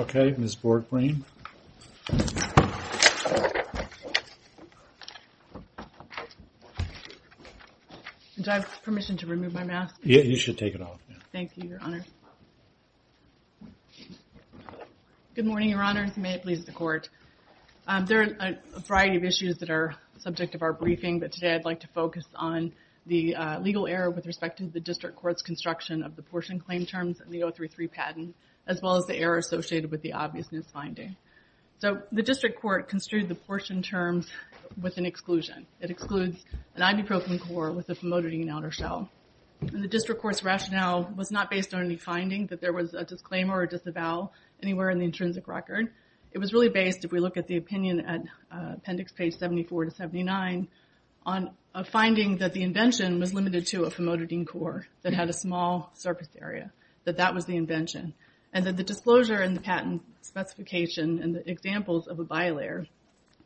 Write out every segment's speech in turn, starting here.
Okay, Ms. Borgbreen. Do I have permission to remove my mask? Yeah, you should take it off. Thank you, Your Honor. Good morning, Your Honors. May it please the Court. There are a variety of issues that are subject of our briefing, but today I'd like to focus on the legal error with respect to the district court's construction of the portion claim terms and the 033 patent, as well as the error associated with the obvious misfinding. The district court construed the portion terms with an exclusion. It excludes an ibuprofen core with a famotidine outer shell. The district court's rationale was not based on any finding that there was a disclaimer or disavow anywhere in the intrinsic record. It was really based, if we look at the opinion at appendix page 74 to 79, on a finding that the invention was limited to a famotidine core that had a small surface area, that that was the invention. And that the disclosure in the patent specification and the examples of a bilayer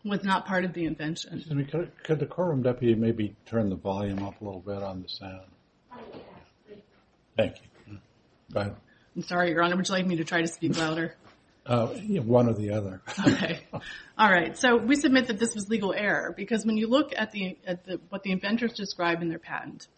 was not part of the invention. Could the courtroom deputy maybe turn the volume up a little bit on the sound? Thank you. Go ahead. I'm sorry, Your Honor. Would you like me to try to speak louder? One or the other. Okay. All right. So we submit that this was legal error, because when you look at what the inventors describe in their patent,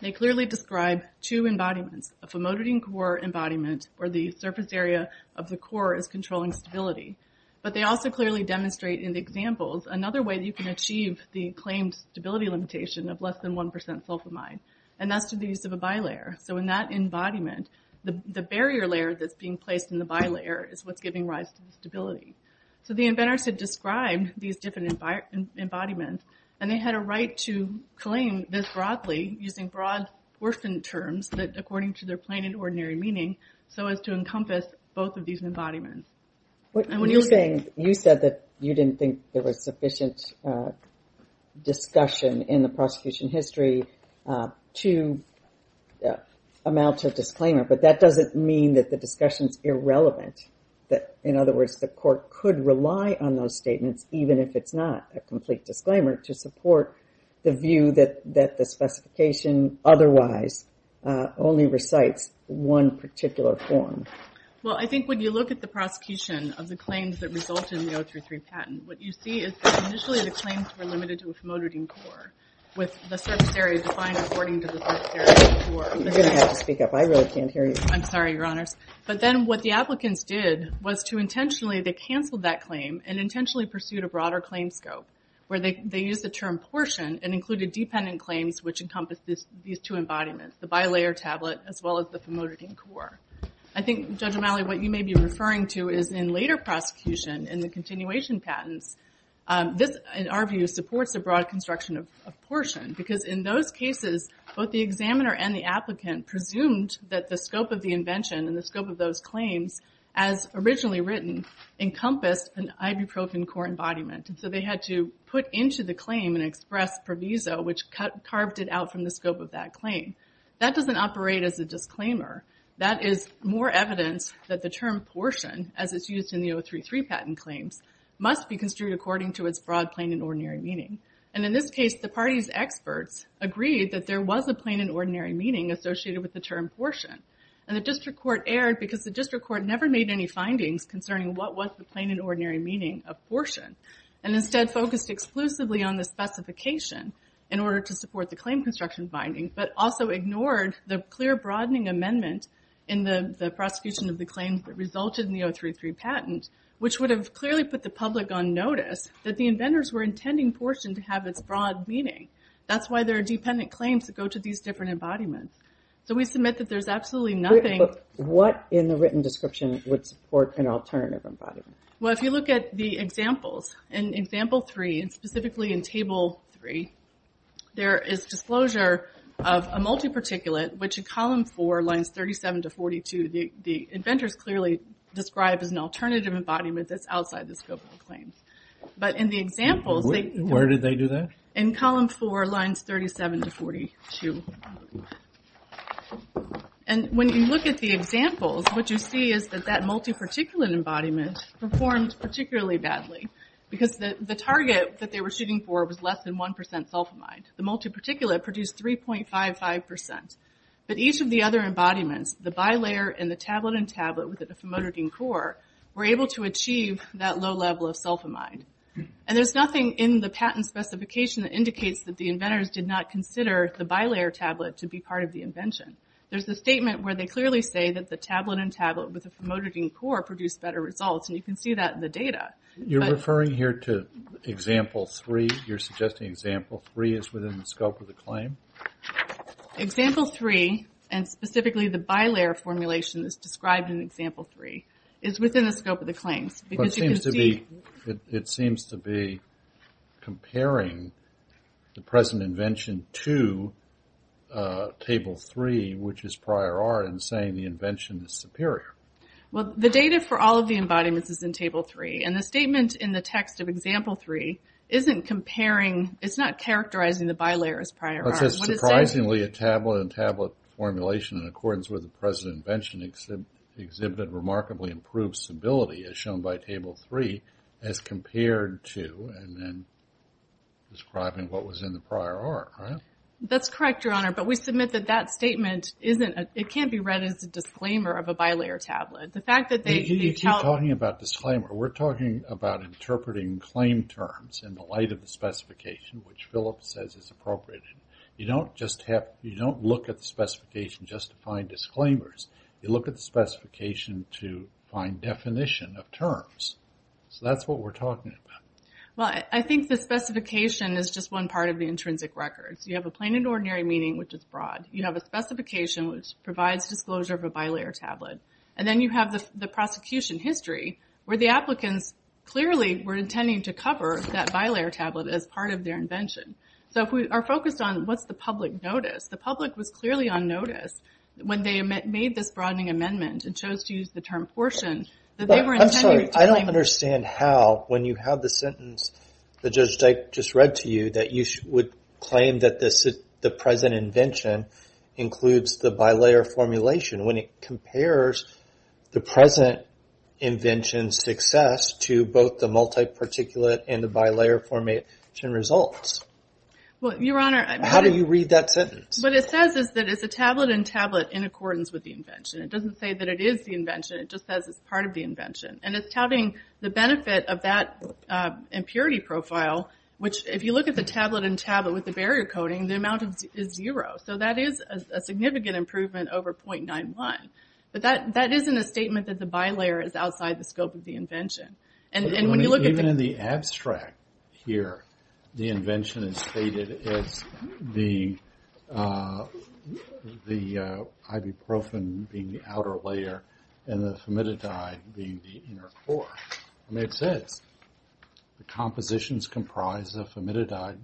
they clearly describe two embodiments, a famotidine core embodiment, where the surface area of the core is controlling stability. But they also clearly demonstrate in the examples another way that you can achieve the claimed stability limitation of less than 1% sulfamide, and that's through the use of a bilayer. So in that embodiment, the barrier layer that's being placed in the bilayer is what's giving rise to the stability. So the inventors had described these different embodiments, and they had a right to claim this broadly using broad portion terms that according to their plain and ordinary meaning, so as to encompass both of these embodiments. What you're saying, you said that you didn't think there was sufficient discussion in the prosecution history to amount to a disclaimer, but that doesn't mean that the discussion is irrelevant. In other words, the court could rely on those statements, even if it's not a complete disclaimer, to support the view that the specification otherwise only recites one particular form. Well, I think when you look at the prosecution of the claims that result in the 033 patent, what you see is initially the claims were limited to a famotidine core with the surface area defined according to the surface area core. You're going to have to speak up. I really can't hear you. I'm sorry, Your Honors. But then what the applicants did was to intentionally, they canceled that claim and intentionally pursued a broader claim scope where they used the term portion and included dependent claims which encompass these two embodiments, the bilayer tablet as well as the famotidine core. I think, Judge O'Malley, what you may be referring to is in later prosecution in the continuation patents, this, in our view, supports a broad construction of portion because in those cases, both the examiner and the applicant presumed that the scope of the invention and the scope of those claims, as originally written, encompassed an ibuprofen core embodiment. So they had to put into the claim an express proviso which carved it out from the scope of that claim. That doesn't operate as a disclaimer. That is more evidence that the term portion, as it's used in the 033 patent claims, must be construed according to its broad plain and ordinary meaning. And in this case, the party's experts agreed that there was a plain and ordinary meaning associated with the term portion. And the district court erred because the district court never made any findings concerning what was the plain and ordinary meaning of portion and instead focused exclusively on the specification in order to support the claim construction finding but also ignored the clear broadening amendment in the prosecution of the claims that resulted in the 033 patent which would have clearly put the public on notice that the inventors were intending portion to have its broad meaning. That's why there are dependent claims that go to these different embodiments. So we submit that there's absolutely nothing... But what in the written description would support an alternative embodiment? Well, if you look at the examples, in example three, and specifically in table three, there is disclosure of a multi-particulate which in column four, lines 37 to 42, the inventors clearly describe as an alternative embodiment that's outside the scope of the claims. But in the examples... Where did they do that? In column four, lines 37 to 42. And when you look at the examples, what you see is that that multi-particulate embodiment performed particularly badly because the target that they were shooting for was less than 1% sulfamide. The multi-particulate produced 3.55%. But each of the other embodiments, the bilayer and the tablet-in-tablet with the famotidine core, were able to achieve that low level of sulfamide. And there's nothing in the patent specification that indicates that the inventors did not consider the bilayer tablet to be part of the invention. There's a statement where they clearly say that the tablet-in-tablet with the famotidine core produced better results, and you can see that in the data. You're referring here to example three? You're suggesting example three is within the scope of the claim? Example three, and specifically the bilayer formulation that's described in example three, is within the scope of the claims. It seems to be comparing the present invention to table three, which is prior art, and saying the invention is superior. Well, the data for all of the embodiments is in table three, and the statement in the text of example three isn't comparing... it's not characterizing the bilayer as prior art. It says, surprisingly, a tablet-in-tablet formulation in accordance with the present invention exhibited remarkably improved stability, as shown by table three, as compared to... and then describing what was in the prior art, right? That's correct, Your Honor, but we submit that that statement isn't... it can't be read as a disclaimer of a bilayer tablet. The fact that they... You're talking about disclaimer. We're talking about interpreting claim terms in the light of the specification, which Philip says is appropriate. You don't just have... you don't look at the specification just to find disclaimers. You look at the specification to find definition of terms. So that's what we're talking about. Well, I think the specification is just one part of the intrinsic records. You have a plain and ordinary meaning, which is broad. You have a specification, which provides disclosure of a bilayer tablet. And then you have the prosecution history, where the applicants clearly were intending to cover that bilayer tablet as part of their invention. So if we are focused on what's the public notice, the public was clearly on notice when they made this broadening amendment and chose to use the term portion, that they were intending to... I'm sorry, I don't understand how, when you have the sentence that Judge Dyke just read to you, that you would claim that the present invention includes the bilayer formulation when it compares the present invention's success to both the multi-particulate and the bilayer formulation results. Well, Your Honor... How do you read that sentence? What it says is that it's a tablet-in-tablet in accordance with the invention. It doesn't say that it is the invention. It just says it's part of the invention. And it's touting the benefit of that impurity profile, which, if you look at the tablet-in-tablet with the barrier coding, the amount is zero. So that is a significant improvement over 0.91. But that isn't a statement that the bilayer is outside the scope of the invention. And when you look at the... Even in the abstract here, the invention is stated as the ibuprofen being the outer layer and the formidabide being the inner core. It makes sense. The compositions comprise the formidabide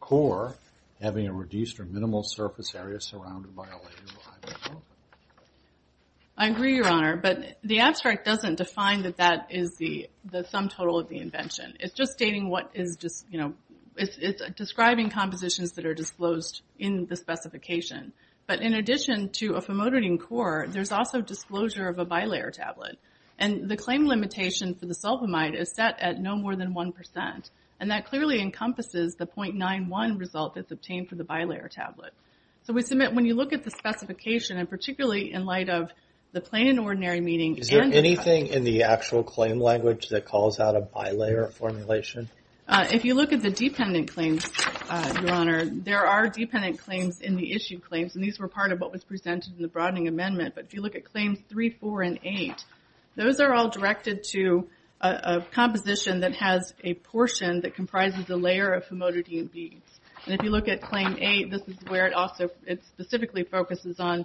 core having a reduced or minimal surface area surrounded by a layer of ibuprofen. I agree, Your Honor. But the abstract doesn't define that that is the sum total of the invention. It's just stating what is just... It's describing compositions that are disclosed in the specification. But in addition to a formodidine core, there's also disclosure of a bilayer tablet. And the claim limitation for the sulfamide is set at no more than 1%. And that clearly encompasses the 0.91 result that's obtained for the bilayer tablet. So we submit... When you look at the specification, and particularly in light of the plain and ordinary meaning... Is there anything in the actual claim language that calls out a bilayer formulation? If you look at the dependent claims, Your Honor, there are dependent claims in the issue claims. And these were part of what was presented in the broadening amendment. But if you look at claims 3, 4, and 8, those are all directed to a composition that has a portion that comprises a layer of famodidine beads. And if you look at claim 8, this is where it specifically focuses on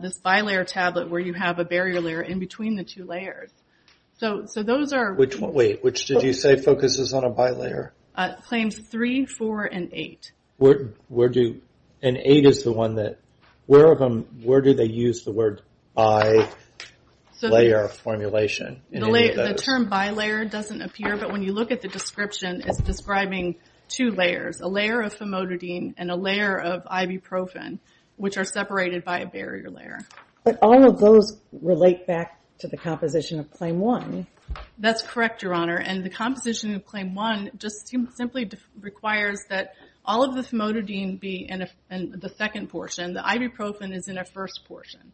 this bilayer tablet where you have a barrier layer in between the two layers. So those are... Wait, which did you say focuses on a bilayer? Claims 3, 4, and 8. Where do... And 8 is the one that... Where do they use the word bilayer formulation? The term bilayer doesn't appear, but when you look at the description, it's describing two layers, a layer of famodidine and a layer of ibuprofen, which are separated by a barrier layer. But all of those relate back to the composition of claim 1. That's correct, Your Honor. And the composition of claim 1 just simply requires that all of the famodidine be in the second portion. The ibuprofen is in a first portion.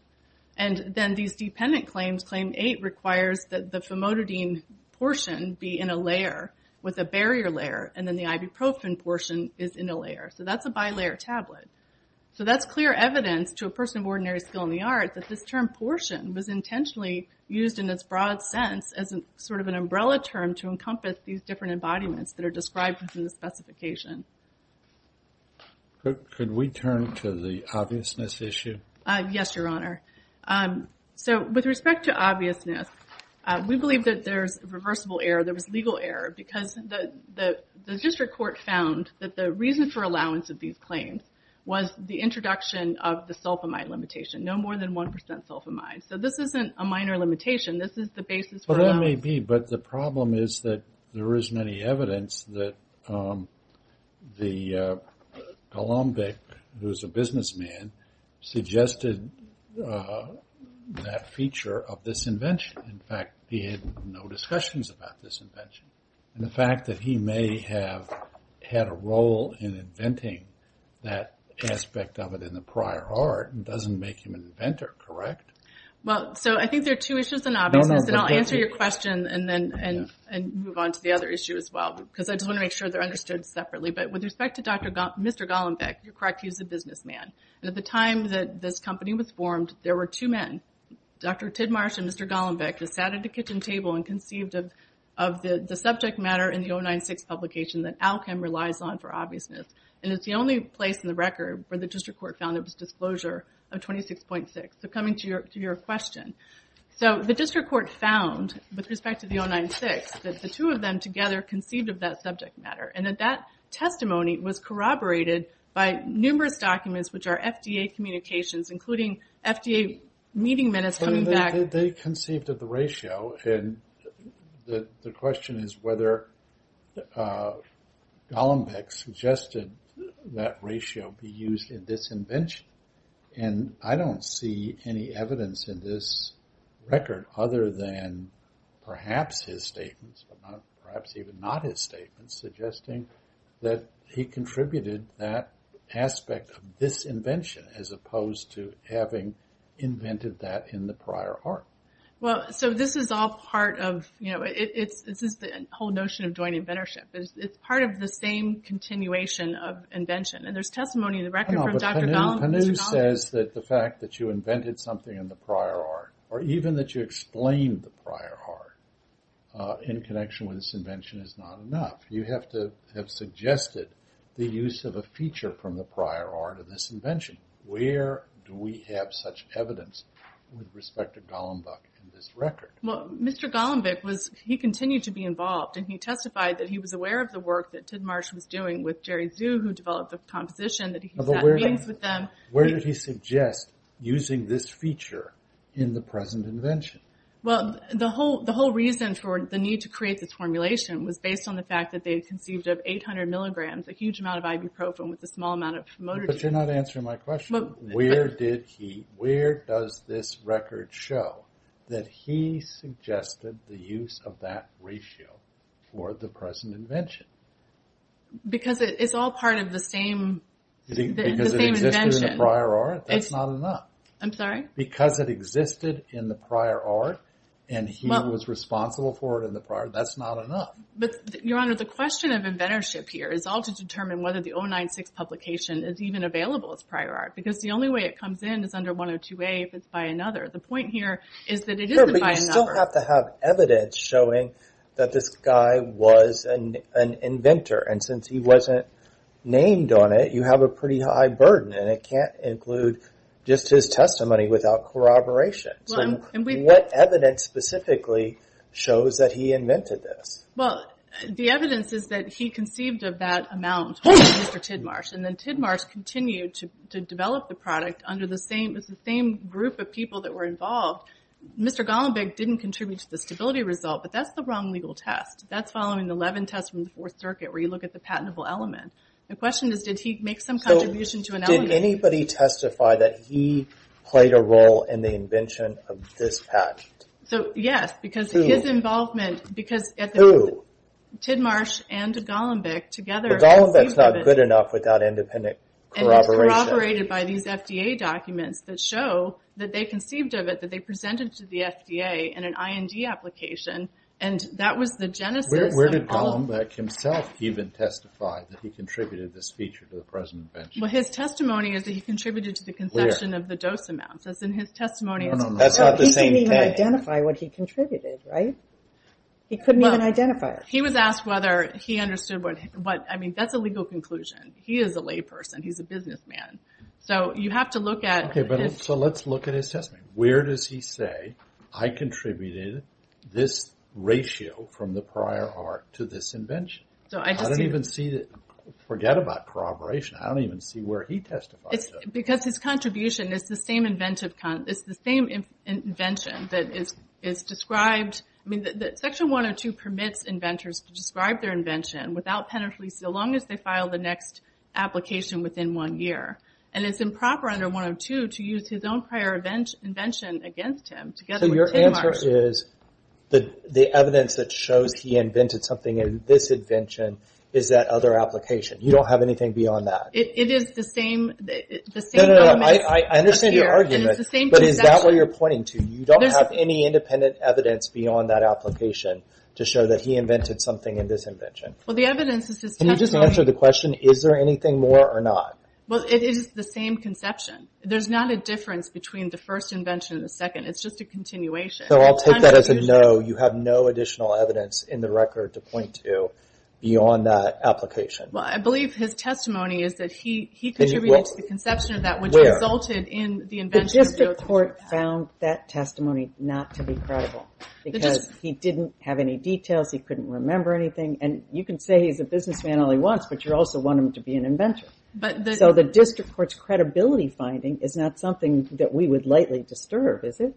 And then these dependent claims, claim 8 requires that the famodidine portion be in a layer with a barrier layer, and then the ibuprofen portion is in a layer. So that's a bilayer tablet. So that's clear evidence to a person of ordinary skill in the arts that this term portion was intentionally used in its broad sense as sort of an umbrella term to encompass these different embodiments that are described in the specification. Could we turn to the obviousness issue? Yes, Your Honor. So with respect to obviousness, we believe that there's reversible error, there was legal error, because the district court found that the reason for allowance of these claims was the introduction of the sulfamide limitation, no more than 1% sulfamide. So this isn't a minor limitation, this is the basis for allowance. But the problem is that there is many evidence that the Golombic, who's a businessman, suggested that feature of this invention. In fact, he had no discussions about this invention. And the fact that he may have had a role in inventing that aspect of it in the prior art doesn't make him an inventor, correct? Well, so I think there are two issues in obviousness, and I'll answer your question and then move on to the other issue as well, because I just want to make sure they're understood separately. But with respect to Mr. Golombic, you're correct, he was a businessman. And at the time that this company was formed, there were two men, Dr. Tidmarsh and Mr. Golombic, who sat at a kitchen table and conceived of the subject matter in the 096 publication that Alchem relies on for obviousness. And it's the only place in the record where the district court found there was disclosure of 26.6. So coming to your question, so the district court found, with respect to the 096, that the two of them together conceived of that subject matter, and that that testimony was corroborated by numerous documents, which are FDA communications, including FDA meeting minutes coming back. They conceived of the ratio, and the question is whether Golombic suggested that ratio be used in this invention. And I don't see any evidence in this record other than perhaps his statements, perhaps even not his statements, suggesting that he contributed that aspect of this invention, as opposed to having invented that in the prior art. Well, so this is all part of, you know, this is the whole notion of joint inventorship. It's part of the same continuation of invention. And there's testimony in the record from Dr. Golombic. But Panu says that the fact that you invented something in the prior art, or even that you explained the prior art in connection with this invention is not enough. You have to have suggested the use of a feature from the prior art of this invention. Where do we have such evidence with respect to Golombic in this record? Well, Mr. Golombic was, he continued to be involved, and he testified that he was aware of the work that Tidmarsh was doing with Jerry Zhu, who developed the composition that he had meetings with them. Where did he suggest using this feature in the present invention? Well, the whole reason for the need to create this formulation was based on the fact that they had conceived of 800 milligrams, a huge amount of ibuprofen with a small amount of motor detail. But you're not answering my question. Where did he, where does this record show that he suggested the use of that ratio for the present invention? Because it's all part of the same, the same invention. Because it existed in the prior art, that's not enough. I'm sorry? Because it existed in the prior art, and he was responsible for it in the prior, that's not enough. But, Your Honor, the question of inventorship here is all to determine whether the 096 publication is even available as prior art. Because the only way it comes in is under 102A if it's by another. The point here is that it isn't by another. Sure, but you still have to have evidence showing that this guy was an inventor. And since he wasn't named on it, you have a pretty high burden, and it can't include just his testimony without corroboration. So what evidence specifically shows that he invented this? Well, the evidence is that he conceived of that amount, Mr. Tidmarsh. And then Tidmarsh continued to develop the product under the same group of people that were involved. Mr. Golombek didn't contribute to the stability result, but that's the wrong legal test. That's following the Levin test from the Fourth Circuit where you look at the patentable element. The question is, did he make some contribution to an element? So did anybody testify that he played a role in the invention of this patent? So, yes, because his involvement... Who? Tidmarsh and Golombek together... But Golombek's not good enough without independent corroboration. And it's corroborated by these FDA documents that show that they conceived of it, that they presented to the FDA in an IND application, and that was the genesis... Where did Golombek himself even testify that he contributed this feature to the present invention? Well, his testimony is that he contributed to the conception of the dose amounts, as in his testimony... That's not the same thing. He couldn't even identify what he contributed, right? He couldn't even identify it. He was asked whether he understood what... I mean, that's a legal conclusion. He is a layperson. He's a businessman. So you have to look at... Okay, so let's look at his testimony. Where does he say, I contributed this ratio from the prior art to this invention? So I just... I don't even see... Forget about corroboration. I don't even see where he testified. Because his contribution is the same invention that is described... I mean, section 102 permits inventors to describe their invention without penalties so long as they file the next application within one year. And it's improper under 102 to use his own prior invention against him together with Tim Marsh. So your answer is the evidence that shows he invented something in this invention is that other application. You don't have anything beyond that? It is the same... No, no, no. I understand your argument, but is that what you're pointing to? You don't have any independent evidence beyond that application to show that he invented something in this invention? Well, the evidence is his testimony... Can you just answer the question, is there anything more or not? Well, it is the same conception. There's not a difference between the first invention and the second. It's just a continuation. So I'll take that as a no. You have no additional evidence in the record to point to beyond that application? Well, I believe his testimony is that he contributed to the conception of that... Where? ...which resulted in the invention... The court found that testimony not to be credible because he didn't have any details, he couldn't remember anything, and you can say he's a businessman all he wants, but you also want him to be an inventor. But the... So the district court's credibility finding is not something that we would lightly disturb, is it?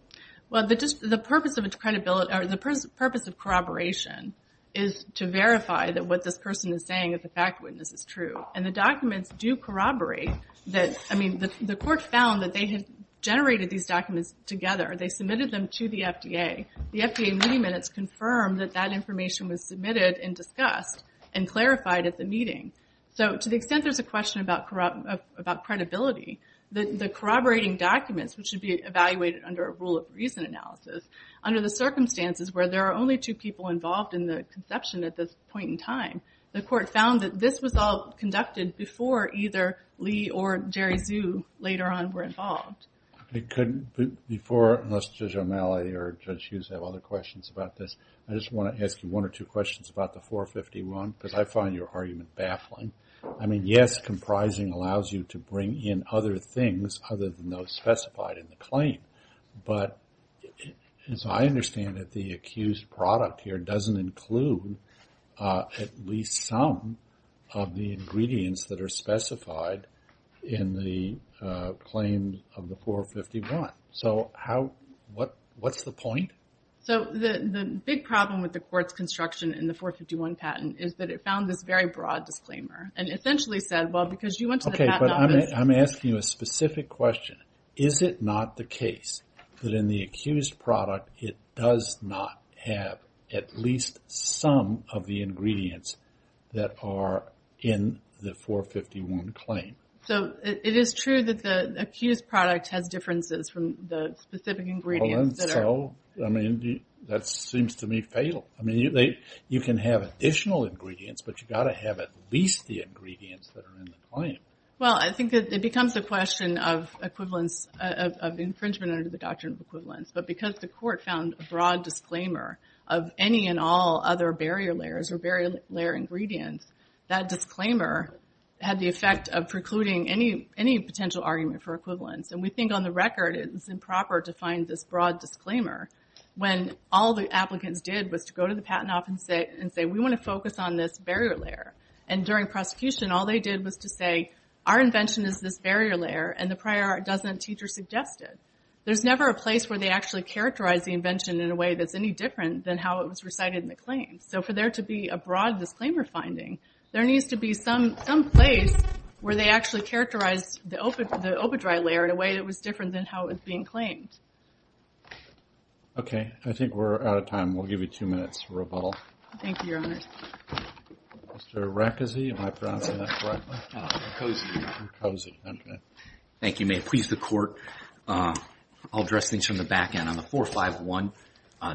Well, the purpose of its credibility, or the purpose of corroboration is to verify that what this person is saying as a fact witness is true. And the documents do corroborate that, I mean, the court found that they had generated these documents together. They submitted them to the FDA. The FDA mini-minutes confirmed that that information was submitted and discussed and clarified at the meeting. So to the extent there's a question about credibility, the corroborating documents, which should be evaluated under a rule of reason analysis, under the circumstances where there are only two people involved in the conception at this point in time, the court found that this was all conducted before either Lee or Jerry Zhu later on were involved. I couldn't, before, unless Judge O'Malley or Judge Hughes have other questions about this, I just want to ask you one or two questions about the 451 because I find your argument baffling. I mean, yes, comprising allows you to bring in other things other than those specified in the claim, but as I understand it, the accused product here doesn't include at least some of the ingredients that are specified in the claims of the 451. So how, what's the point? So the big problem with the court's construction in the 451 patent is that it found this very broad disclaimer and essentially said, well, because you went to the patent office. Okay, but I'm asking you a specific question. Is it not the case that in the accused product, it does not have at least some of the ingredients that are in the 451 claim? So it is true that the accused product has differences from the specific ingredients that are... Well, and so, I mean, that seems to me fatal. I mean, you can have additional ingredients, but you've got to have at least the ingredients that are in the claim. Well, I think it becomes a question of equivalence, of infringement under the doctrine of equivalence, but because the court found a broad disclaimer of any and all other barrier layers or barrier layer ingredients, that disclaimer had the effect of precluding any potential argument for equivalence. And we think on the record, it was improper to find this broad disclaimer when all the applicants did was to go to the patent office and say, we want to focus on this barrier layer. And during prosecution, all they did was to say, our invention is this barrier layer, and the prior art doesn't teach or suggest it. There's never a place where they actually characterize the invention in a way that's any different than how it was recited in the claim. So for there to be a broad disclaimer finding, there needs to be some place where they actually characterize the OpaDry layer in a way that was different than how it was being claimed. Okay. I think we're out of time. We'll give you two minutes for rebuttal. Thank you, Your Honor. Mr. Rackesy, am I pronouncing that correctly? No. Rackosy. Rackosy. Okay. Thank you, ma'am. Please, the court, I'll address things On the 451,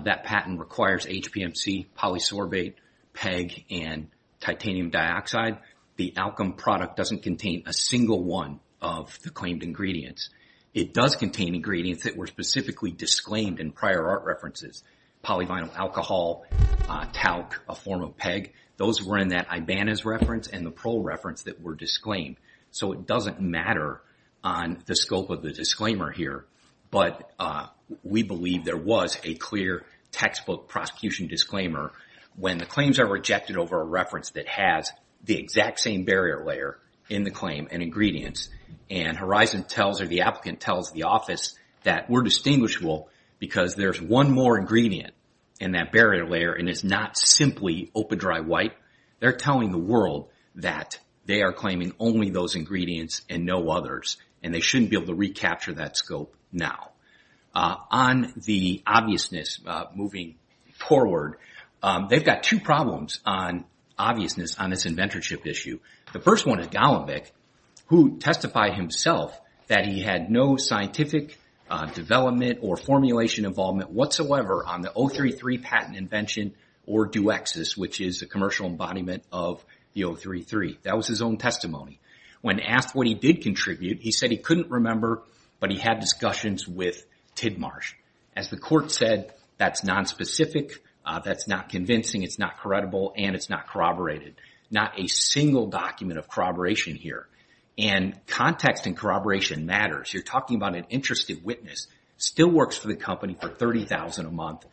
that patent requires HPMC, polysorbate, PEG, and titanium dioxide. The outcome product doesn't contain a single component of the alkyl product. It doesn't contain a single one of the claimed ingredients. It does contain ingredients that were specifically disclaimed in prior art references. Polyvinyl alcohol, talc, a form of PEG, those were in that Ibanez reference and the Prole reference that were disclaimed. So it doesn't matter on the scope of the disclaimer here, there was a clear textbook prosecution disclaimer when the claims are rejected over a reference that has the exact same barrier layer in the claim and ingredients that were disclaimed ingredients and Horizon tells or the applicant tells the office that we're distinguishable because there's one more ingredient in that barrier layer and it's not simply open dry white. They're telling the world that they are claiming only those ingredients and no others and they shouldn't be able to recapture that scope now. On the obviousness moving forward, they've got two problems on obviousness on this inventorship issue. The first one is to testify himself that he had no scientific development or formulation involvement whatsoever on the 033 patent invention or Duexis which is a commercial embodiment of the 033. That was his own testimony. When asked what he did contribute, he said he couldn't remember but he had discussions with Tidmarsh. As the court said, that's non-specific, that's not convincing, it's not credible and it's not corroborated. Not a single document of corroboration here and context and corroboration matters. You're talking about an interested witness still works for the company for $30,000 a month.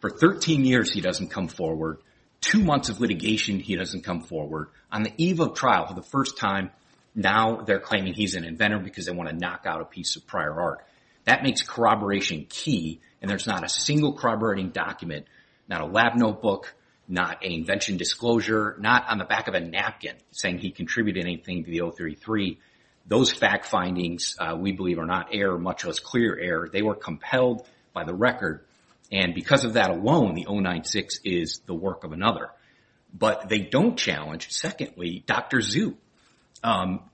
For 13 years, he doesn't come forward. Two months of litigation, he doesn't come forward. On the eve of trial for the first time, now they're claiming he's an inventor because they want to knock out a piece of prior art. That makes corroboration key and there's not a single corroborating document, not a lab notebook, not an invention disclosure, not on the back of a napkin saying he contributed anything to the 033. Those fact findings, we believe, are not error, much less clear error. They were compelled by the record and because of that alone, the 096 is the work of another. But they don't challenge, secondly, Dr. Zhu.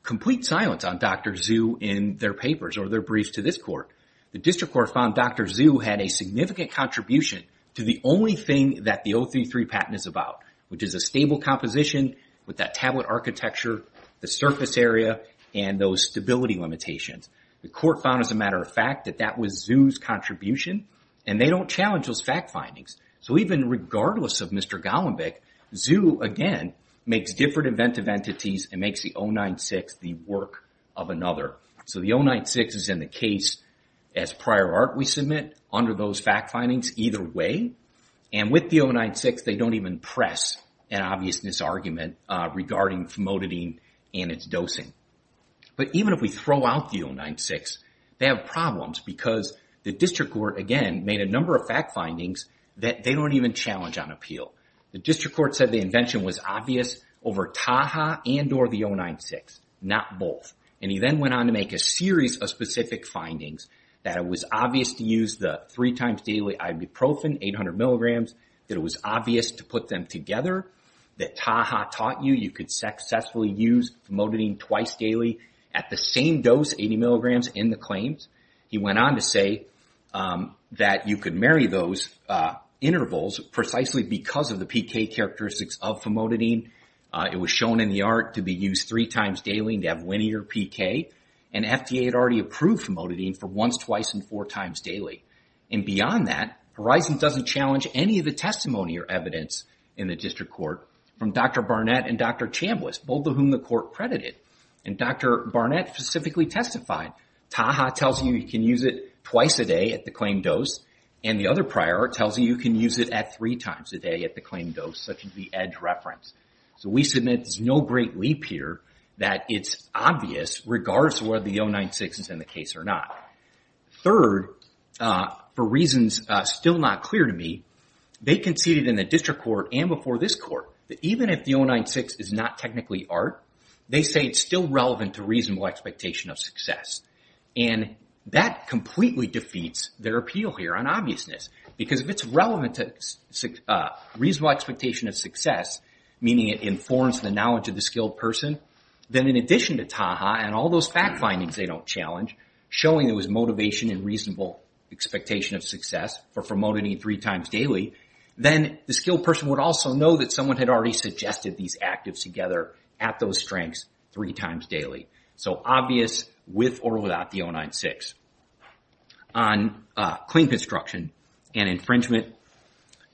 Complete silence on Dr. Zhu in their papers or their briefs to this court. The district court found Dr. Zhu had a significant contribution to the only thing that the 033 patent is about, which is a stable composition with that tablet architecture, the surface area and those stability limitations. The court found, as a matter of fact, that that was Zhu's contribution and they don't challenge those fact findings. So even regardless of Mr. Golombik, Zhu, again, makes different inventive entities and makes the 096 the work of another. So the 096 is in the case as prior art we submit under those fact findings either way and with the 096, they don't even press an obviousness argument regarding famotidine and its dosing. But even if we throw out the 096, they have problems because the district court, again, made a number of fact findings that they don't even challenge on appeal. The district court said the invention was obvious over Taha and or the 096, not both. And he then went on to make a series of specific findings that it was obvious to use the three times daily ibuprofen, 800 milligrams, that it was obvious to put them together, that Taha taught you you could successfully use famotidine twice daily at the same dose, 80 milligrams, in the claims. He went on to say that you could marry those intervals precisely because of the PK characteristics of famotidine. It was shown in the art to be used three times daily and to have linear PK. And FDA had already approved famotidine for once, twice, and four times daily. And beyond that, Horizon doesn't challenge any of the testimony or evidence in the district court from Dr. Barnett and Dr. Chambliss, both of whom the court credited. And Dr. Barnett specifically testified, Taha tells you you can use it twice a day at the claim dose and the other prior tells you you can use it at three times a day at the claim dose, such as the EDGE reference. So we submit there's no great leap here that it's obvious regardless of whether the 096 is in the case or not. Third, for reasons still not clear to me, they conceded in the district court and before this court that even if the 096 is not technically ART, they say it's still relevant to reasonable expectation of success. And that completely defeats their appeal here on obviousness because if it's relevant to reasonable expectation of success, meaning it informs the knowledge of the skilled person, then in addition to Taha and all those fact findings they don't challenge, showing there was motivation and reasonable expectation of success for famotidine meaning three times daily, then the skilled person would also know that someone had already suggested these actives together at those strengths three times daily. So obvious with or without the 096. On claim construction and infringement,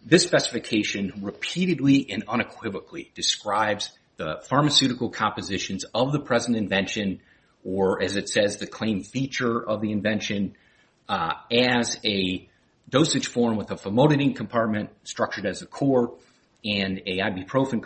this specification repeatedly and unequivocally describes the pharmaceutical compositions of the present invention or as it says, the claim feature of the invention as a dosage form with a famotidine compartment structured as a core and a ibuprofen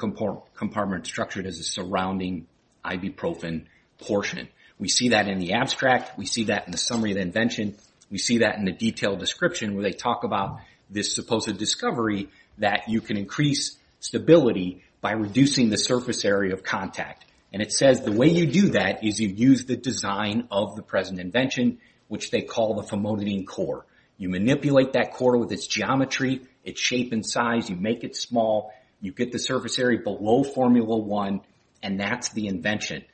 compartment structured as a surrounding ibuprofen portion. We see that in the abstract. We see that in the summary of the invention. We see that in the detailed description where they talk about this supposed discovery that you can increase stability by reducing the surface area of contact. And it says the way you do that is you use the design of the present invention which they call the famotidine core. You manipulate that core with its geometry, its shape and size. You make it small. You get the surface area below formula 1 and that's the invention.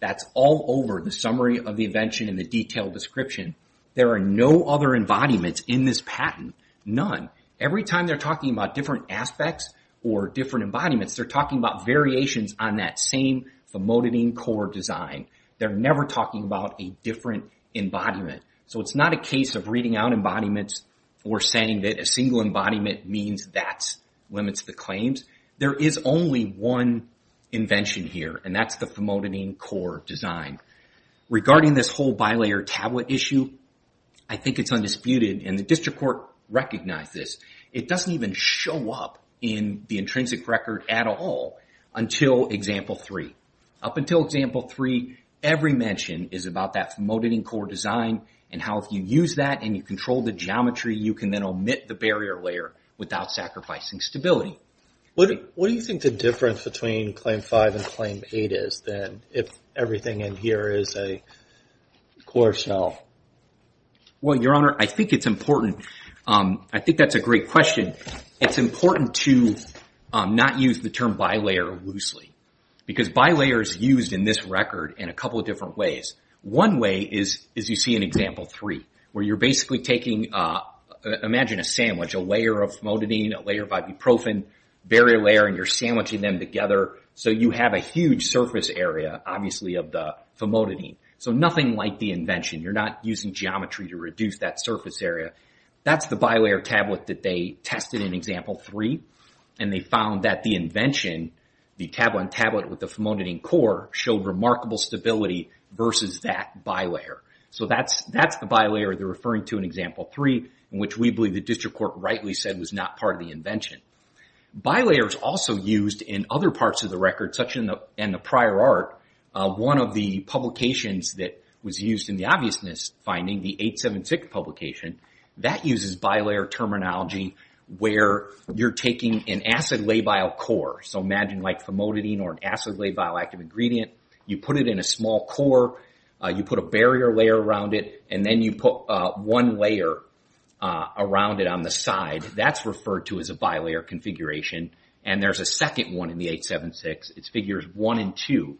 That's all over the summary of the invention and the detailed description. There are no other embodiments in this patent. None. Every time they're talking about different aspects or different embodiments, they're talking about variations on that same famotidine core design. They're never talking about a different embodiment. So it's not a case of reading out embodiments or saying that a single embodiment means that's when it's the claims. There is only one invention here and that's the famotidine core design. Regarding this whole bilayer tablet issue, I think it's undisputed and the district court recognized this. It doesn't even show up in the intrinsic record at all until example 3. Up until example 3, every mention is about that famotidine core design and how if you use that and you control the geometry, you can then omit the barrier layer without sacrificing stability. What do you think the difference between Claim 5 and Claim 8 is than if everything in here is a core shell? Well, Your Honor, I think it's important. I think that's a great question. It's important to not use the term bilayer loosely because bilayer is used in this record in a couple of different ways. One way is you see in example 3 where you're basically taking imagine a sandwich, a layer of famotidine, a layer of ibuprofen, barrier layer, and you're sandwiching them together so you have a huge surface area obviously of the famotidine. So nothing like the invention. You're not using geometry to reduce that surface area. That's the bilayer tablet that they tested in example 3 and they found that the invention, the tablet with the famotidine core showed remarkable stability versus that bilayer. So that's the bilayer they're referring to in example 3 in which we believe the district court rightly said was not part of the invention. Bilayer is also used in other parts of the record such in the prior art. One of the publications that was used in the obviousness finding, the 876 publication, that uses bilayer terminology where you're taking an acid labile core. So imagine like famotidine or an acid labile active ingredient. You put it in a small core. You put a barrier layer around it and then you put one layer around it on the side. That's referred to as a bilayer configuration and there's a second one in the 876. It's figures 1 and 2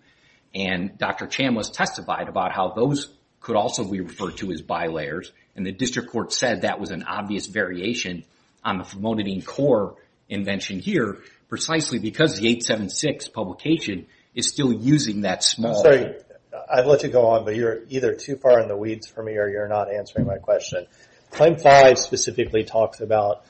and Dr. Chan was testified about how those could also be referred to as bilayers and the district court said that was an obvious variation on the famotidine core invention here precisely because the 876 publication is still using that small... I'm sorry. I've let you go on but you're either too far in the weeds for me or you're not answering my question. Claim 5 specifically talks about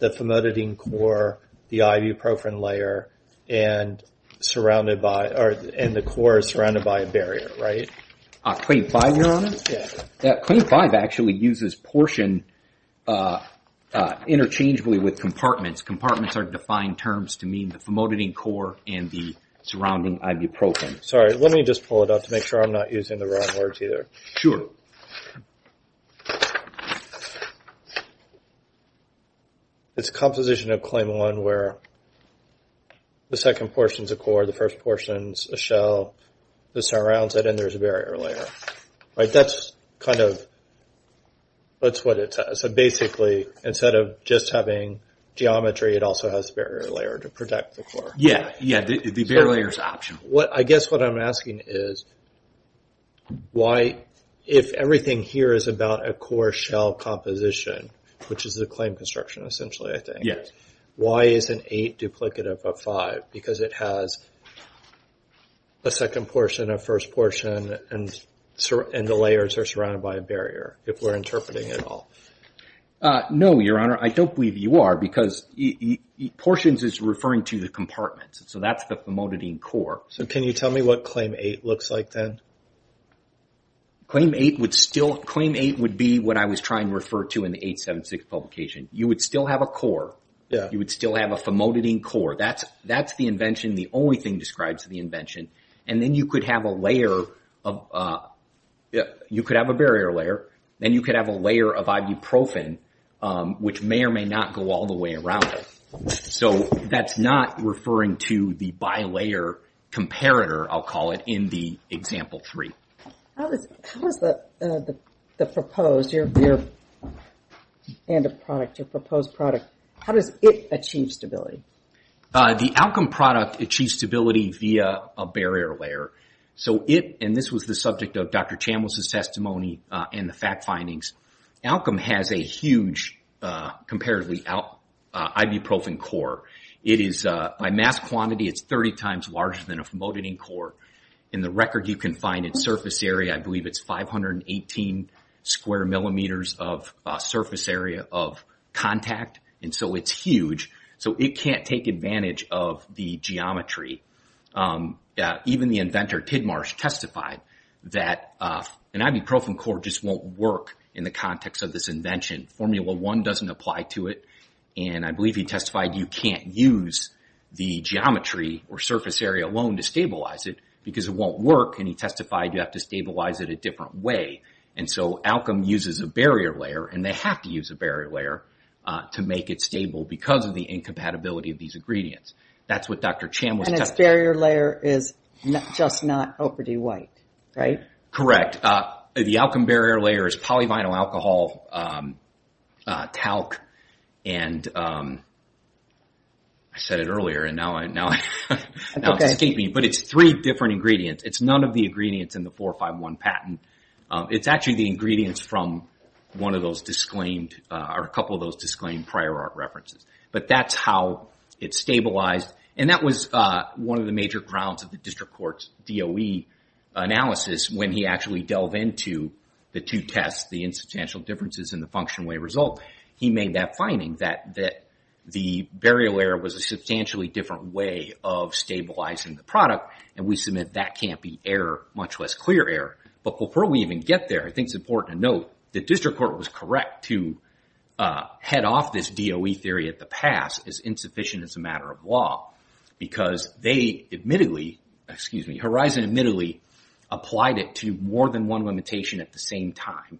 the famotidine core, the ibuprofen layer, and the core is surrounded by a barrier, right? Claim 5, Your Honor? Yes. Claim 5 actually uses portion interchangeably with compartments. Compartments are defined terms to mean the famotidine core and the surrounding ibuprofen. Sorry. Let me just pull it up to make sure I'm not using the wrong words either. Sure. It's composition of claim 1 where the second portion's a core, the first portion's a shell, this surrounds it and there's a barrier layer. Right? That's kind of... That's what it says. So basically, instead of just having geometry, it also has a barrier layer to protect the core. Yeah, yeah. The barrier layer's optional. I guess what I'm asking is why, if everything here is about a core-shell composition, which is the claim construction essentially, I think, why is an 8 duplicative of 5? Because it has a second portion, a first portion, and the layers are surrounded by a barrier, if we're interpreting it all. No, Your Honor. I don't believe you are because portions is referring to the compartments, so that's the famotidine core. So can you tell me what Claim 8 looks like then? Claim 8 would still... Claim 8 would be what I was trying to refer to in the 876 publication. You would still have a core. Yeah. You would still have a famotidine core. That's the invention, the only thing described to the invention. And then you could have a layer of... You could have a barrier layer. Then you could have a layer of ibuprofen, which may or may not go all the way around it. So that's not referring to the bilayer comparator. I'll call it in the Example 3. How does the proposed, your end of product, your proposed product, how does it achieve stability? The Alkem product achieves stability via a barrier layer. So it, and this was the subject of Dr. Chambliss' testimony and the fact findings, Alkem has a huge, comparatively, ibuprofen core. It is, by mass quantity, it's 30 times larger than a famotidine core. And the record you can find in surface area, I believe it's 518 square millimeters of surface area of contact. And so it's huge. So it can't take advantage of the geometry. Even the inventor, Tidmarsh, testified that an ibuprofen core just won't work in the context of this invention. Formula 1 doesn't apply to it. And I believe he testified you can't use the geometry or surface area alone to stabilize it because it won't work. And he testified you have to stabilize it a different way. And so Alkem uses a barrier layer and they have to use a barrier layer to make it stable because of the incompatibility of these ingredients. That's what Dr. Chambliss testified. And this barrier layer is just not OPD-White, right? Correct. The Alkem barrier layer is polyvinyl alcohol talc. And I said it earlier and now it's escaping me. But it's three different ingredients. It's none of the ingredients in the 451 patent. It's actually the ingredients from one of those disclaimed or a couple of those disclaimed prior art references. But that's how it's stabilized. And that was one of the major grounds of the district court's DOE analysis when he actually delved into the two tests, the insubstantial differences and the function way result. He made that finding that the barrier layer was a substantially different way of stabilizing the product. And we submit that can't be error, much less clear error. But before we even get there, I think it's important to note the district court was correct to head off this DOE theory at the pass as insufficient as a matter of law because they admittedly, excuse me, Horizon admittedly applied it to more than one limitation at the same time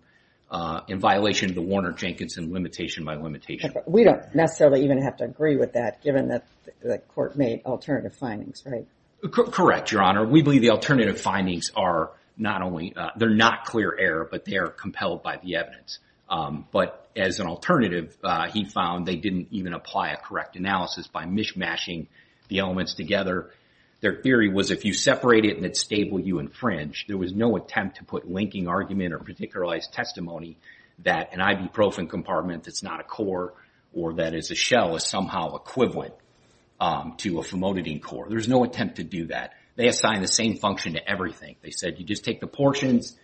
in violation of the Warner-Jenkinson limitation by limitation. We don't necessarily even have to agree with that given that the court made alternative findings, right? Correct, Your Honor. We believe the alternative findings are not only, they're not clear error, but they are compelled by the evidence. But as an alternative, he found they didn't even apply a correct analysis by mishmashing the elements together. Their theory was if you separate it and it's stable, you infringe. There was no attempt to put linking argument or particularized testimony that an ibuprofen compartment that's not a core or that is a shell is somehow equivalent to a famotidine core. There's no attempt to do that. They assign the same function to everything. They said, you just take the portions,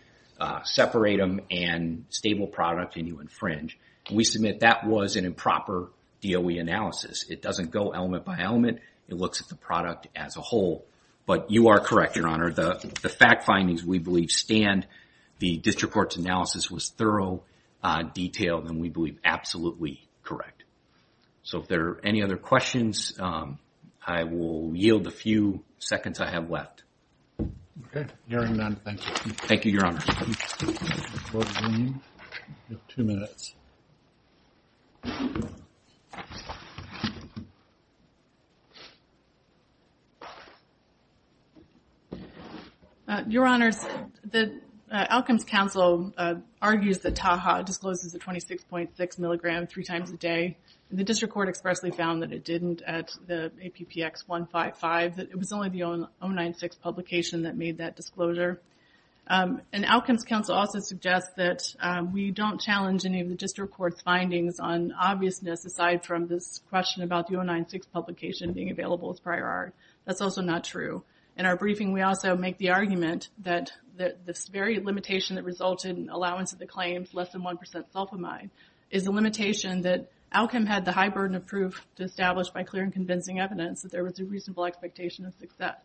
separate them, and stable product and you infringe. And we submit that was an improper DOE analysis. It doesn't go element by element. It looks at the product as a whole. But you are correct, Your Honor. The fact findings we believe stand. The district court's analysis was thorough, detailed, and we believe absolutely correct. So if there are any other questions, I will yield a few seconds I have left. Okay. Hearing none, thank you. Thank you, Your Honor. Your Honors, the Outcomes Council argues that Taha discloses a 26.6 milligram three times a day. The district court expressly found that it didn't at the APPX 155, that it was only the 096 publication that made that disclosure. And Outcomes Council also suggests that we don't challenge any of the district court's findings on obviousness aside from this question about the 096 publication being available as prior art. That's also not true. In our briefing, we also make the argument that this very limitation that resulted in allowance of the claims less than 1% sulfamide is a limitation that Outcome had the high burden of proof to establish by clear and convincing evidence that there was a reasonable expectation of success.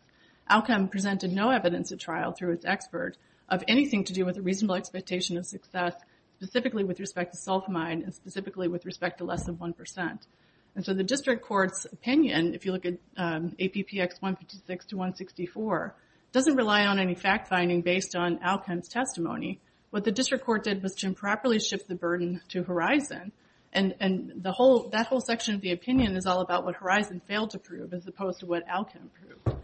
Outcome presented no evidence at trial through its expert of anything to do with a reasonable expectation of success specifically with respect to sulfamide and specifically with respect to less than 1%. And so the district court's opinion, if you look at APPX 156 to 164, doesn't rely on any fact finding based on Outcome's testimony. What the district court did was to improperly shift the burden to Horizon and that whole section of the opinion is all about what Horizon failed to prove as opposed to what Outcome proved.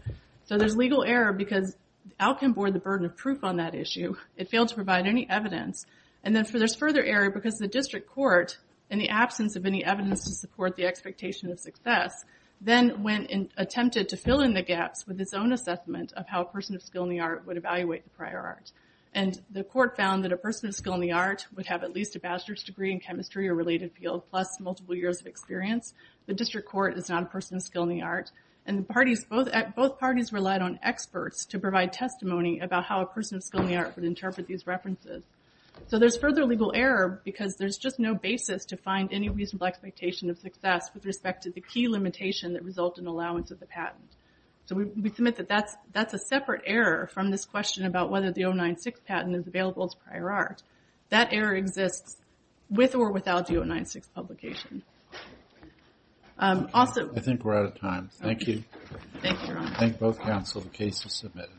So there's legal error because Outcome bore the burden of proof on that issue. It failed to provide any evidence. And then there's further error because the district court, in the absence of any evidence to support the expectation of success, then went and attempted to fill in the gaps with its own assessment of how a person of skill in the art would evaluate the prior art. And the court found that a person of skill in the art would have at least a bachelor's degree in chemistry or related field plus multiple years of experience. The district court is not a person of skill in the art. And both parties relied on experts to provide testimony about how a person of skill in the art would interpret these references. So there's further legal error because there's just no basis to find any reasonable expectation of success with respect to the key limitation that resulted in allowance of the patent. So we submit that that's a separate error from this question about whether the 096 patent is available as prior art. That error exists with or without the 096 publication. Also... I think we're out of time. Thank you. Thank you, Your Honor. I thank both counsel the case is submitted.